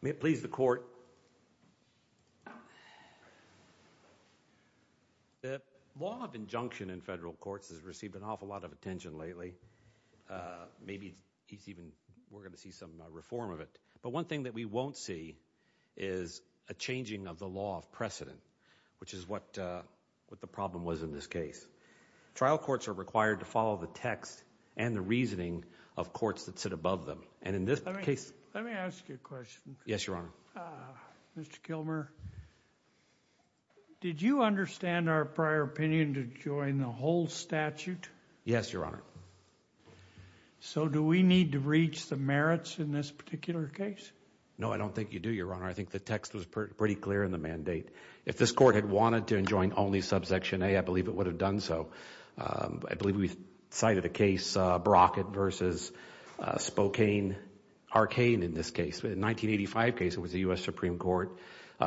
May it please the Court. The law of injunction in federal courts has received an awful lot of attention lately. Maybe we're going to see some reform of it. But one thing that we won't see is a changing of the law of precedent, which is what the problem was in this case. Trial courts are required to follow the text and the reasoning of courts that sit above them. Let me ask you a question. Yes, Your Honor. Mr. Kilmer, did you understand our prior opinion to join the whole statute? Yes, Your Honor. So do we need to reach the merits in this particular case? No, I don't think you do, Your Honor. I think the text was pretty clear in the mandate. If this Court had wanted to join only subsection A, I believe it would have done so. I believe we cited a case, Brockett v. Spokane-Arcane in this case. In the 1985 case, it was the U.S. Supreme Court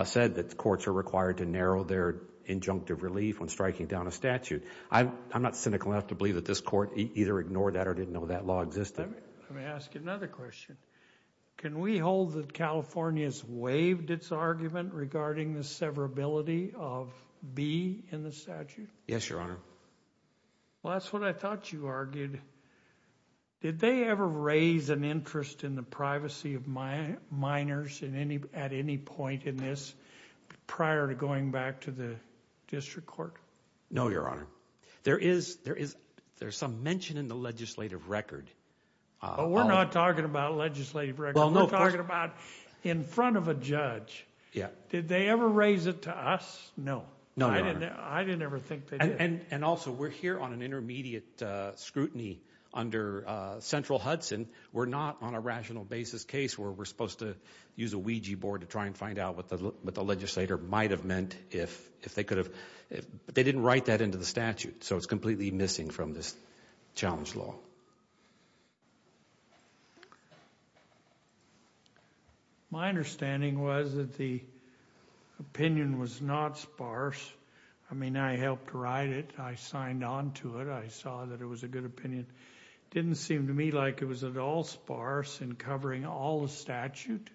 said that courts are required to narrow their injunctive relief when striking down a statute. I'm not cynical enough to believe that this Court either ignored that or didn't know that law existed. Let me ask you another question. Can we hold that California's waived its argument regarding the severability of B in the statute? Yes, Your Honor. Well, that's what I thought you argued. Did they ever raise an interest in the privacy of minors at any point in this prior to going back to the district court? No, Your Honor. There is some mention in the legislative record. But we're not talking about legislative records. We're talking about in front of a judge. Did they ever raise it to us? No. No, Your Honor. I didn't ever think they did. And also, we're here on an intermediate scrutiny under central Hudson. We're not on a rational basis case where we're supposed to use a Ouija board to try and find out what the legislator might have meant if they could have. They didn't write that into the statute, so it's completely missing from this challenge law. My understanding was that the opinion was not sparse. I mean, I helped write it. I signed on to it. I saw that it was a good opinion. It didn't seem to me like it was at all sparse in covering all the statute.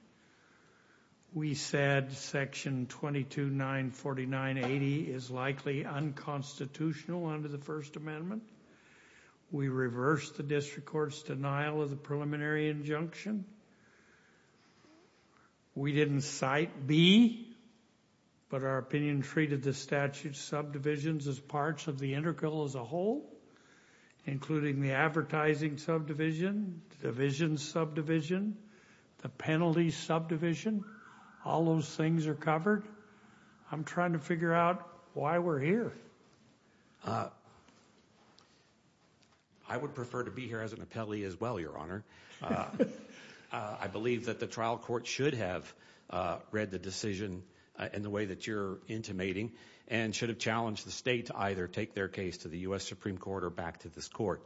We said Section 2294980 is likely unconstitutional under the First Amendment. We reversed the district court's denial of the preliminary injunction. We didn't cite B. But our opinion treated the statute subdivisions as parts of the integral as a whole, including the advertising subdivision, division subdivision, the penalty subdivision. All those things are covered. I'm trying to figure out why we're here. I would prefer to be here as an appellee as well, Your Honor. I believe that the trial court should have read the decision in the way that you're intimating and should have challenged the state to either take their case to the U.S. Supreme Court or back to this court.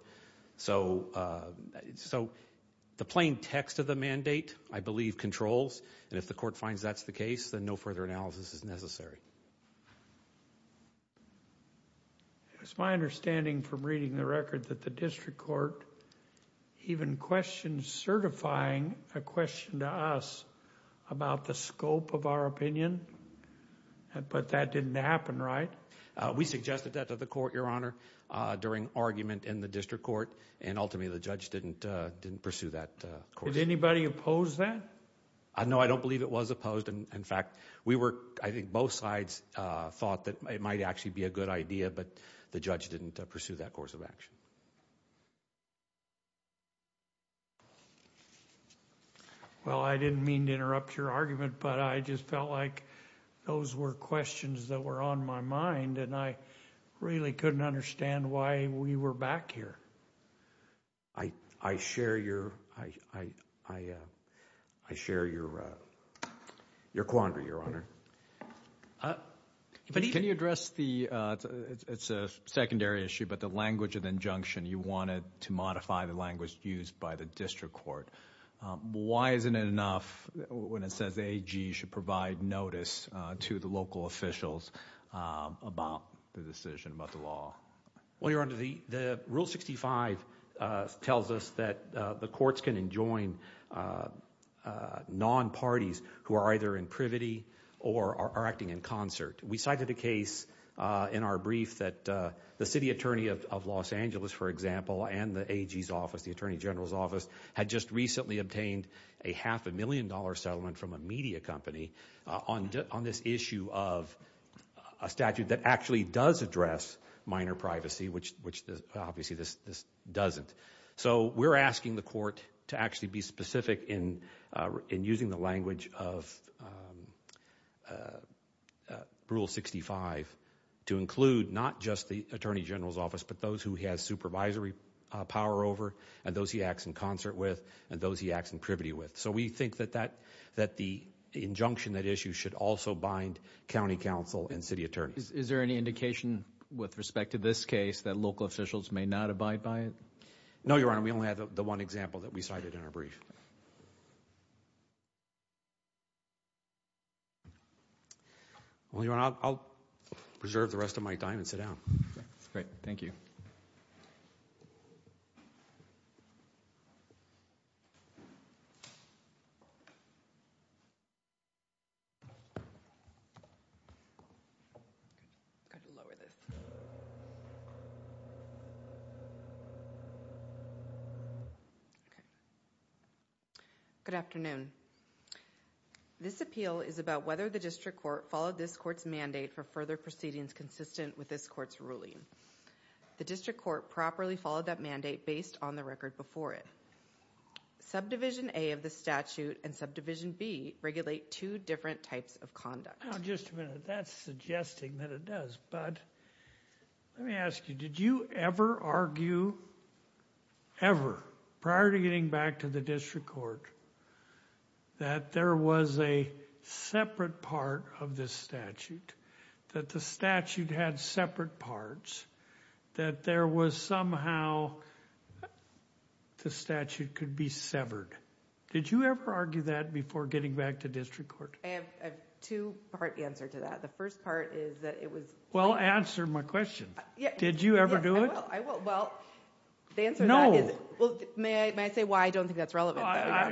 So the plain text of the mandate, I believe, controls. And if the court finds that's the case, then no further analysis is necessary. It's my understanding from reading the record that the district court even questioned certifying a question to us about the scope of our opinion, but that didn't happen, right? We suggested that to the court, Your Honor, during argument in the district court, and ultimately the judge didn't pursue that. Did anybody oppose that? No, I don't believe it was opposed. In fact, I think both sides thought that it might actually be a good idea, but the judge didn't pursue that course of action. Well, I didn't mean to interrupt your argument, but I just felt like those were questions that were on my mind, and I really couldn't understand why we were back here. I share your quandary, Your Honor. Can you address the, it's a secondary issue, but the language of injunction. You wanted to modify the language used by the district court. Why isn't it enough when it says AG should provide notice to the local officials about the decision, about the law? Well, Your Honor, the Rule 65 tells us that the courts can enjoin non-parties who are either in privity or are acting in concert. We cited a case in our brief that the city attorney of Los Angeles, for example, and the AG's office, the Attorney General's office, had just recently obtained a half a million dollar settlement from a media company on this issue of a statute that actually does address minor privacy, which obviously this doesn't. So we're asking the court to actually be specific in using the language of Rule 65 to include not just the Attorney General's office, but those who he has supervisory power over and those he acts in concert with and those he acts in privity with. So we think that the injunction, that issue, should also bind county council and city attorneys. Is there any indication with respect to this case that local officials may not abide by it? No, Your Honor. We only have the one example that we cited in our brief. Well, Your Honor, I'll preserve the rest of my time and sit down. Great. Thank you. Good afternoon. This appeal is about whether the district court followed this court's mandate for further proceedings consistent with this court's ruling. The district court properly followed that mandate based on the record before it. Subdivision A of the statute and subdivision B regulate two different types of conduct. Now, just a minute. That's suggesting that it does. But let me ask you, did you ever argue, ever, prior to getting back to the district court, that there was a separate part of this statute, that the statute had separate parts, that there was somehow the statute could be severed? Did you ever argue that before getting back to district court? I have a two-part answer to that. The first part is that it was... Well, answer my question. Did you ever do it? Well, the answer to that is... May I say why? I don't think that's relevant. I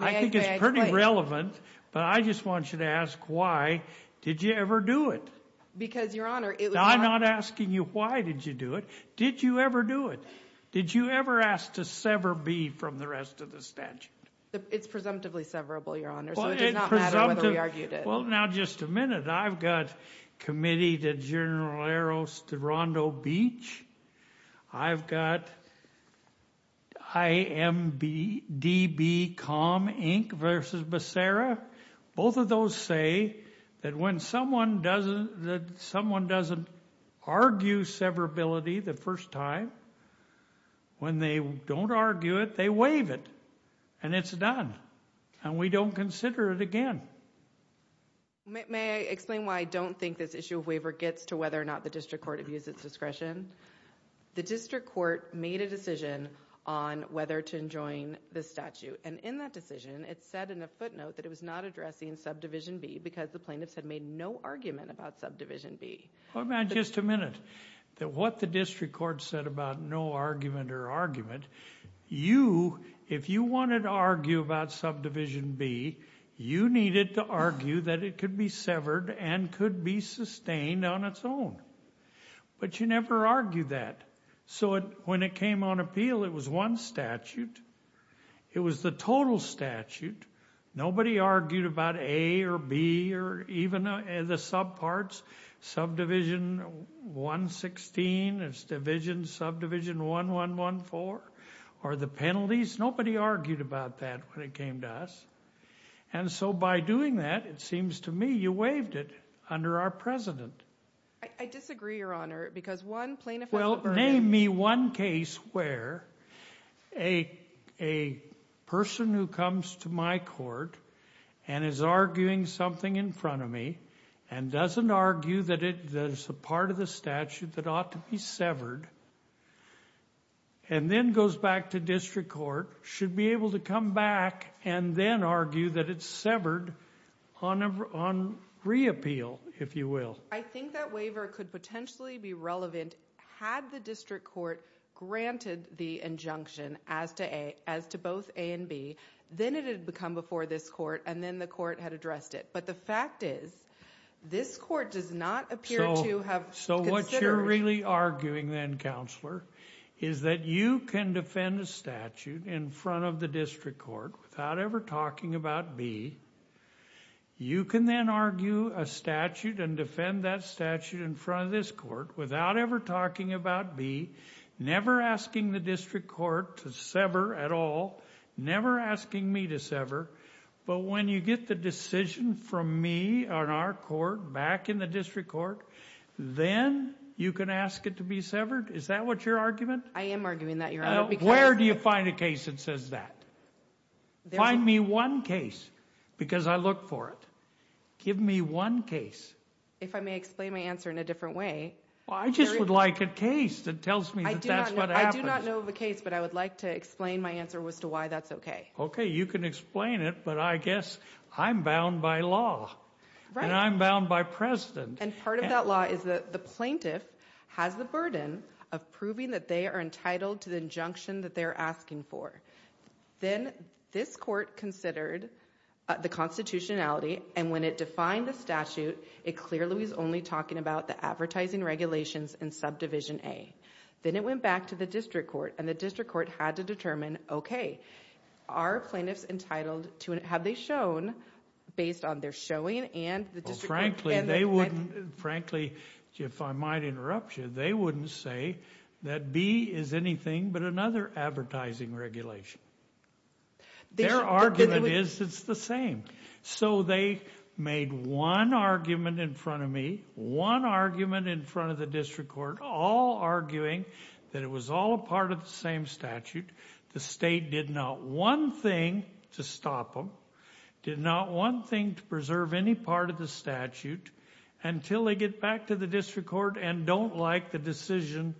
think it's pretty relevant, but I just want you to ask why did you ever do it? Because, Your Honor, it was... I'm not asking you why did you do it. Did you ever do it? Did you ever ask to sever B from the rest of the statute? It's presumptively severable, Your Honor, so it does not matter whether we argued it. Well, now, just a minute. I've got Committee to General Eros de Rondo Beach. I've got IMDB Com Inc. v. Becerra. Both of those say that when someone doesn't argue severability the first time, when they don't argue it, they waive it, and it's done, and we don't consider it again. May I explain why I don't think this issue of waiver gets to whether or not the district court abused its discretion? The district court made a decision on whether to enjoin the statute, and in that decision it said in a footnote that it was not addressing Subdivision B because the plaintiffs had made no argument about Subdivision B. Well, now, just a minute. What the district court said about no argument or argument, you, if you wanted to argue about Subdivision B, you needed to argue that it could be severed and could be sustained on its own, but you never argued that. So when it came on appeal, it was one statute. It was the total statute. Nobody argued about A or B or even the subparts, Subdivision 116, it's Division, Subdivision 1114, or the penalties. Nobody argued about that when it came to us. And so by doing that, it seems to me you waived it under our president. I disagree, Your Honor, because one plaintiff has a burden. Name me one case where a person who comes to my court and is arguing something in front of me and doesn't argue that it's a part of the statute that ought to be severed and then goes back to district court, should be able to come back and then argue that it's severed on reappeal, if you will. I think that waiver could potentially be relevant had the district court granted the injunction as to both A and B. Then it would have come before this court, and then the court had addressed it. But the fact is, this court does not appear to have considered— So what you're really arguing then, Counselor, is that you can defend a statute in front of the district court without ever talking about B. You can then argue a statute and defend that statute in front of this court without ever talking about B, never asking the district court to sever at all, never asking me to sever. But when you get the decision from me on our court, back in the district court, then you can ask it to be severed? Is that what your argument? I am arguing that, Your Honor. Where do you find a case that says that? Find me one case, because I look for it. Give me one case. If I may explain my answer in a different way. Well, I just would like a case that tells me that that's what happens. I do not know of a case, but I would like to explain my answer as to why that's okay. Okay, you can explain it, but I guess I'm bound by law. Right. And I'm bound by precedent. And part of that law is that the plaintiff has the burden of proving that they are entitled to the injunction that they're asking for. Then this court considered the constitutionality, and when it defined the statute, it clearly was only talking about the advertising regulations in Subdivision A. Then it went back to the district court, and the district court had to determine, okay, are plaintiffs entitled to it? Have they shown, based on their showing and the district court? Frankly, if I might interrupt you, they wouldn't say that B is anything but another advertising regulation. Their argument is it's the same. So they made one argument in front of me, one argument in front of the district court, all arguing that it was all a part of the same statute. The state did not one thing to stop them, did not one thing to preserve any part of the statute until they get back to the district court and don't like the decision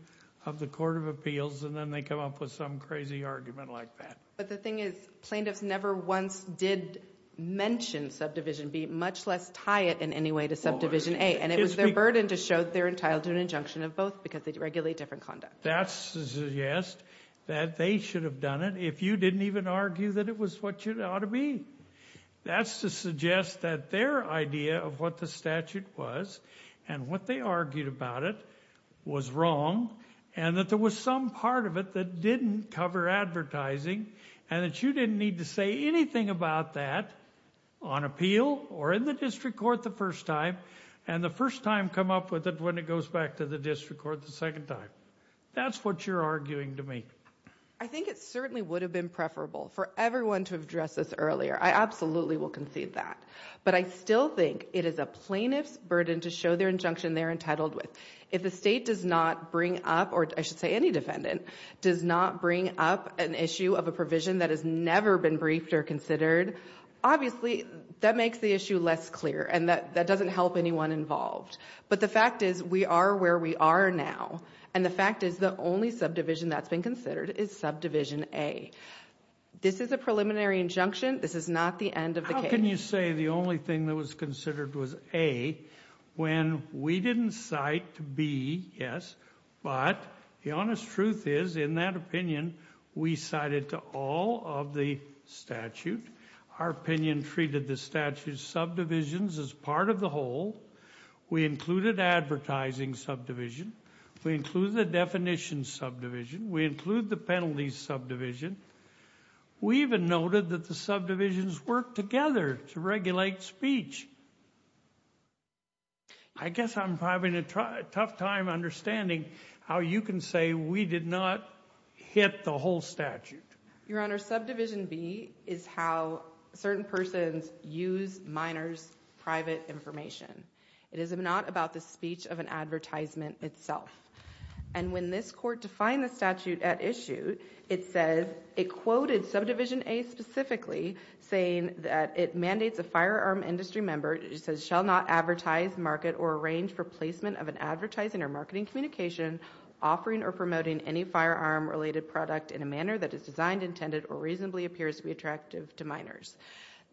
of the Court of Appeals, and then they come up with some crazy argument like that. But the thing is plaintiffs never once did mention Subdivision B, much less tie it in any way to Subdivision A, and it was their burden to show they're entitled to an injunction of both because they regulate different conduct. That's to suggest that they should have done it if you didn't even argue that it was what it ought to be. That's to suggest that their idea of what the statute was and what they argued about it was wrong and that there was some part of it that didn't cover advertising and that you didn't need to say anything about that on appeal or in the district court the first time and the first time come up with it when it goes back to the district court the second time. That's what you're arguing to me. I think it certainly would have been preferable for everyone to have addressed this earlier. I absolutely will concede that. But I still think it is a plaintiff's burden to show their injunction they're entitled with. If the state does not bring up, or I should say any defendant, does not bring up an issue of a provision that has never been briefed or considered, obviously that makes the issue less clear and that doesn't help anyone involved. But the fact is we are where we are now, and the fact is the only subdivision that's been considered is Subdivision A. This is a preliminary injunction. This is not the end of the case. How can you say the only thing that was considered was A when we didn't cite B, yes, but the honest truth is in that opinion we cited to all of the statute. Our opinion treated the statute's subdivisions as part of the whole. We included Advertising Subdivision. We included the Definition Subdivision. We included the Penalty Subdivision. We even noted that the subdivisions work together to regulate speech. I guess I'm having a tough time understanding how you can say we did not hit the whole statute. Your Honor, Subdivision B is how certain persons use minors' private information. It is not about the speech of an advertisement itself. And when this Court defined the statute at issue, it says, it quoted Subdivision A specifically, saying that it mandates a firearm industry member shall not advertise, market, or arrange for placement of an advertising or marketing communication offering or promoting any firearm-related product in a manner that is designed, intended, or reasonably appears to be attractive to minors.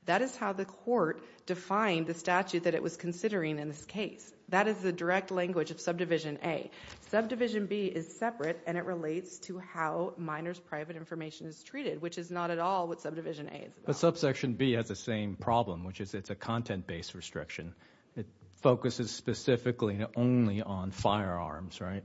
That is how the Court defined the statute that it was considering in this case. That is the direct language of Subdivision A. Subdivision B is separate, and it relates to how minors' private information is treated, which is not at all what Subdivision A is about. But Subsection B has the same problem, which is it's a content-based restriction. It focuses specifically and only on firearms, right?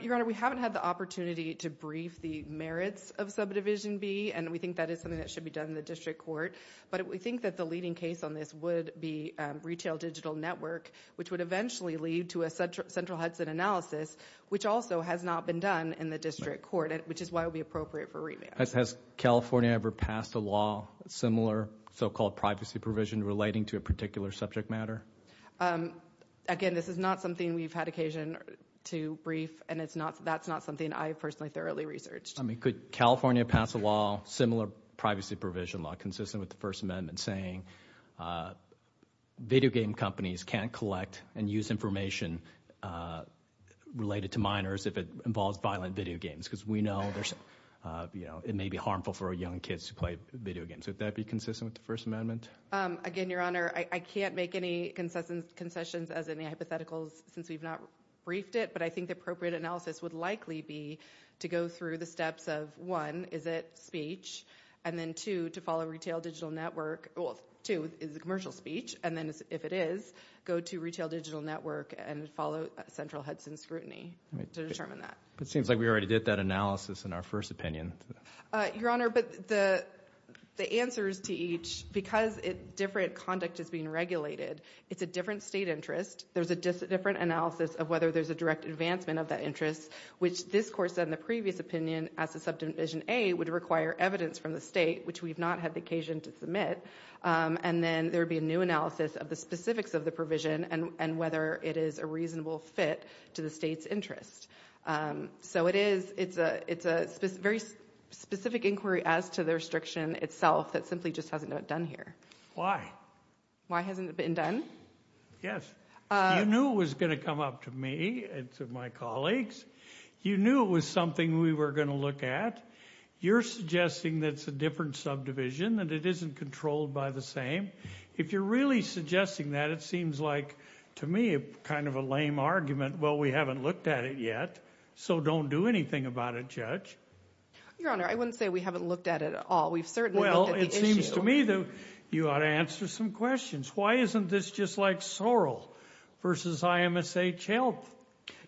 Your Honor, we haven't had the opportunity to brief the merits of Subdivision B, and we think that is something that should be done in the District Court. But we think that the leading case on this would be Retail Digital Network, which would eventually lead to a central Hudson analysis, which also has not been done in the District Court, which is why it would be appropriate for revamp. Has California ever passed a law, similar so-called privacy provision, relating to a particular subject matter? Again, this is not something we've had occasion to brief, and that's not something I've personally thoroughly researched. I mean, could California pass a law, similar privacy provision law, consistent with the First Amendment, saying video game companies can't collect and use information related to minors if it involves violent video games? Because we know it may be harmful for young kids to play video games. Would that be consistent with the First Amendment? Again, Your Honor, I can't make any concessions, as in the hypotheticals, since we've not briefed it, but I think the appropriate analysis would likely be to go through the steps of, one, is it speech? And then, two, to follow Retail Digital Network. Well, two, is it commercial speech? And then, if it is, go to Retail Digital Network and follow central Hudson scrutiny to determine that. It seems like we already did that analysis in our first opinion. Your Honor, but the answers to each, because different conduct is being regulated, it's a different state interest. There's a different analysis of whether there's a direct advancement of that interest, which this Court said in the previous opinion, as to Subdivision A, would require evidence from the state, which we've not had the occasion to submit. And then there would be a new analysis of the specifics of the provision and whether it is a reasonable fit to the state's interest. So it is, it's a very specific inquiry as to the restriction itself that simply just hasn't been done here. Why? Why hasn't it been done? Yes. You knew it was gonna come up to me and to my colleagues. You knew it was something we were gonna look at. You're suggesting that it's a different subdivision, that it isn't controlled by the same. If you're really suggesting that, it seems like, to me, kind of a lame argument, well, we haven't looked at it yet, so don't do anything about it, Judge. Your Honor, I wouldn't say we haven't looked at it at all. We've certainly looked at the issue. Well, it seems to me that you ought to answer some questions. Why isn't this just like Sorrell versus IMSHL?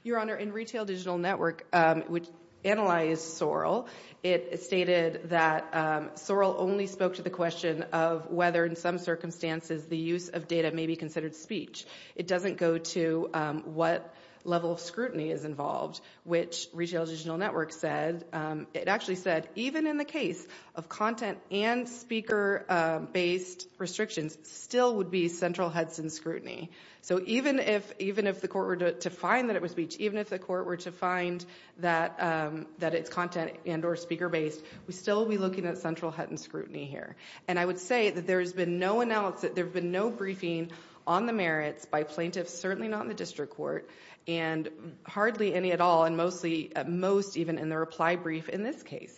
Your Honor, in Retail Digital Network, which analyzed Sorrell, it stated that Sorrell only spoke to the question of whether, in some circumstances, the use of data may be considered speech. It doesn't go to what level of scrutiny is involved, which Retail Digital Network said. It actually said, even in the case of content and speaker-based restrictions, still would be central Hudson scrutiny. So even if the court were to find that it was speech, even if the court were to find that it's content and or speaker-based, we still would be looking at central Hudson scrutiny here. And I would say that there's been no analysis, no briefing on the merits by plaintiffs, certainly not in the district court, and hardly any at all, and most even in the reply brief in this case.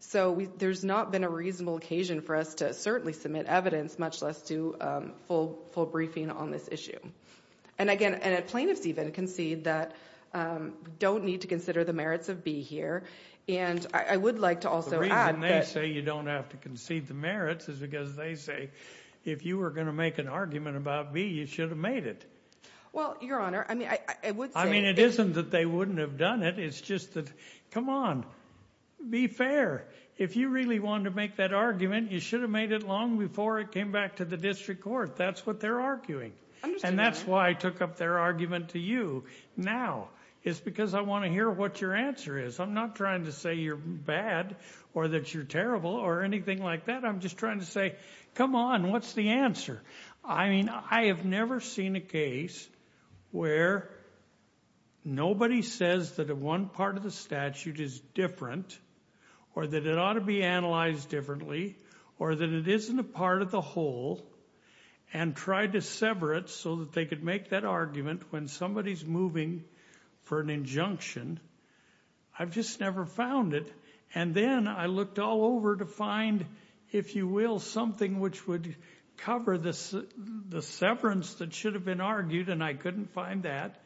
So there's not been a reasonable occasion for us to certainly submit evidence, much less to full briefing on this issue. And again, plaintiffs even concede that we don't need to consider the merits of B here. And I would like to also add that... The reason they say you don't have to concede the merits is because they say, if you were going to make an argument about B, you should have made it. Well, Your Honor, I mean, I would say... I mean, it isn't that they wouldn't have done it. It's just that, come on, be fair. If you really wanted to make that argument, you should have made it long before it came back to the district court. That's what they're arguing. And that's why I took up their argument to you now. It's because I want to hear what your answer is. I'm not trying to say you're bad or that you're terrible or anything like that. I'm just trying to say, come on, what's the answer? I mean, I have never seen a case where nobody says that one part of the statute is different or that it ought to be analyzed differently or that it isn't a part of the whole and tried to sever it so that they could make that argument when somebody's moving for an injunction. I've just never found it. And then I looked all over to find, if you will, something which would cover the severance that should have been argued, and I couldn't find that.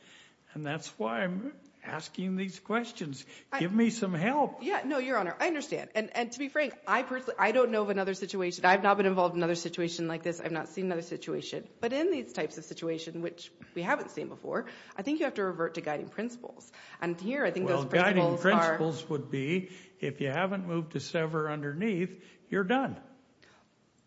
And that's why I'm asking these questions. Give me some help. Yeah, no, Your Honor, I understand. And to be frank, I don't know of another situation. I've not been involved in another situation like this. I've not seen another situation. But in these types of situations, which we haven't seen before, I think you have to revert to guiding principles. And here I think those principles are... Well, guiding principles would be, if you haven't moved to sever underneath, you're done.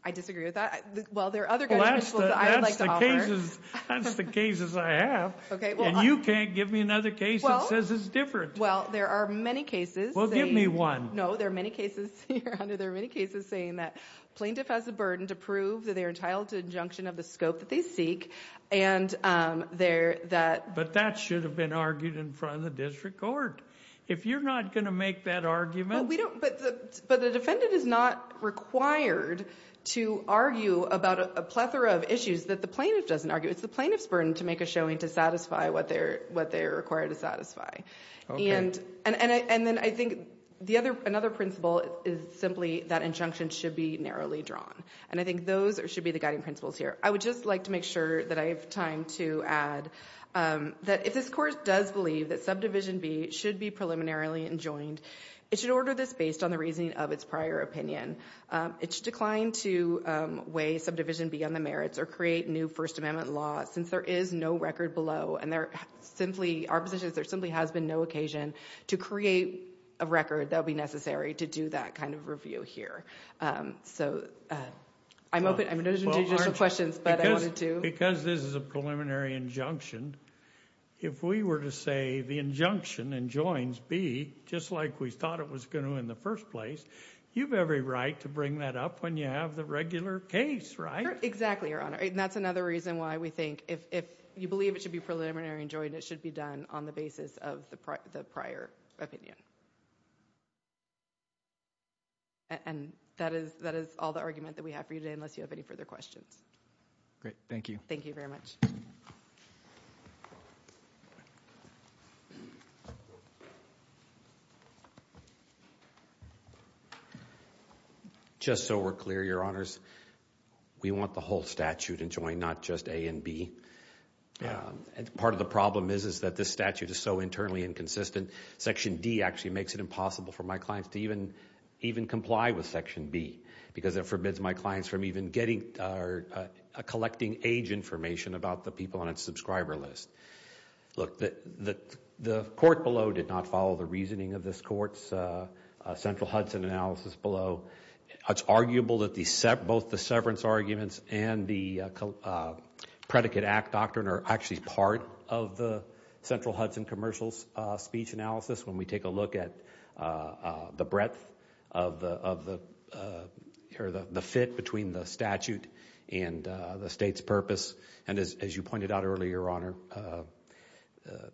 I disagree with that. Well, there are other guiding principles that I would like to offer. Well, that's the cases I have. Okay, well... And you can't give me another case that says it's different. Well, there are many cases saying... Well, give me one. No, there are many cases, Your Honor, there are many cases saying that plaintiff has a burden to prove that they're entitled to injunction of the scope that they seek, and that... But that should have been argued in front of the district court. If you're not going to make that argument... But we don't... But the defendant is not required to argue about a plethora of issues that the plaintiff doesn't argue. It's the plaintiff's burden to make a showing to satisfy what they're required to satisfy. Okay. And then I think another principle is simply that injunction should be narrowly drawn. And I think those should be the guiding principles here. I would just like to make sure that I have time to add that if this Court does believe that Subdivision B should be preliminarily enjoined, it should order this based on the reasoning of its prior opinion. It should decline to weigh Subdivision B on the merits or create new First Amendment law since there is no record below. And there simply... Our position is there simply has been no occasion to create a record that would be necessary to do that kind of review here. So I'm open... I'm open to additional questions, but I wanted to... If we were to say the injunction enjoins B, just like we thought it was going to in the first place, you have every right to bring that up when you have the regular case, right? Exactly, Your Honor. And that's another reason why we think if you believe it should be preliminary enjoined, it should be done on the basis of the prior opinion. And that is all the argument that we have for you today, unless you have any further questions. Great. Thank you. Thank you very much. Just so we're clear, Your Honors, we want the whole statute enjoined, not just A and B. Part of the problem is that this statute is so internally inconsistent. Section D actually makes it impossible for my clients to even comply with Section B because it forbids my clients from even getting... or collecting age information about the people on its subscriber list. Look, the court below did not follow the reasoning of this court's Central Hudson analysis below. It's arguable that both the severance arguments and the Predicate Act doctrine are actually part of the Central Hudson commercial speech analysis when we take a look at the breadth of the... the fit between the statute and the state's purpose and, as you pointed out earlier, Your Honor,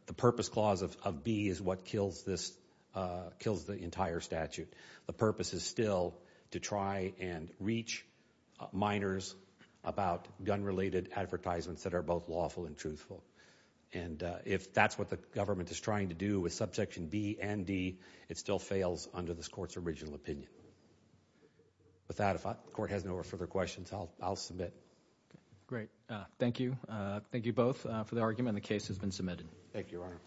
the purpose clause of B is what kills the entire statute. The purpose is still to try and reach minors about gun-related advertisements that are both lawful and truthful. And if that's what the government is trying to do with subsection B and D, it still fails under this court's original opinion. With that, if the court has no further questions, I'll submit. Great. Thank you. Thank you both for the argument, and the case has been submitted. Thank you, Your Honor.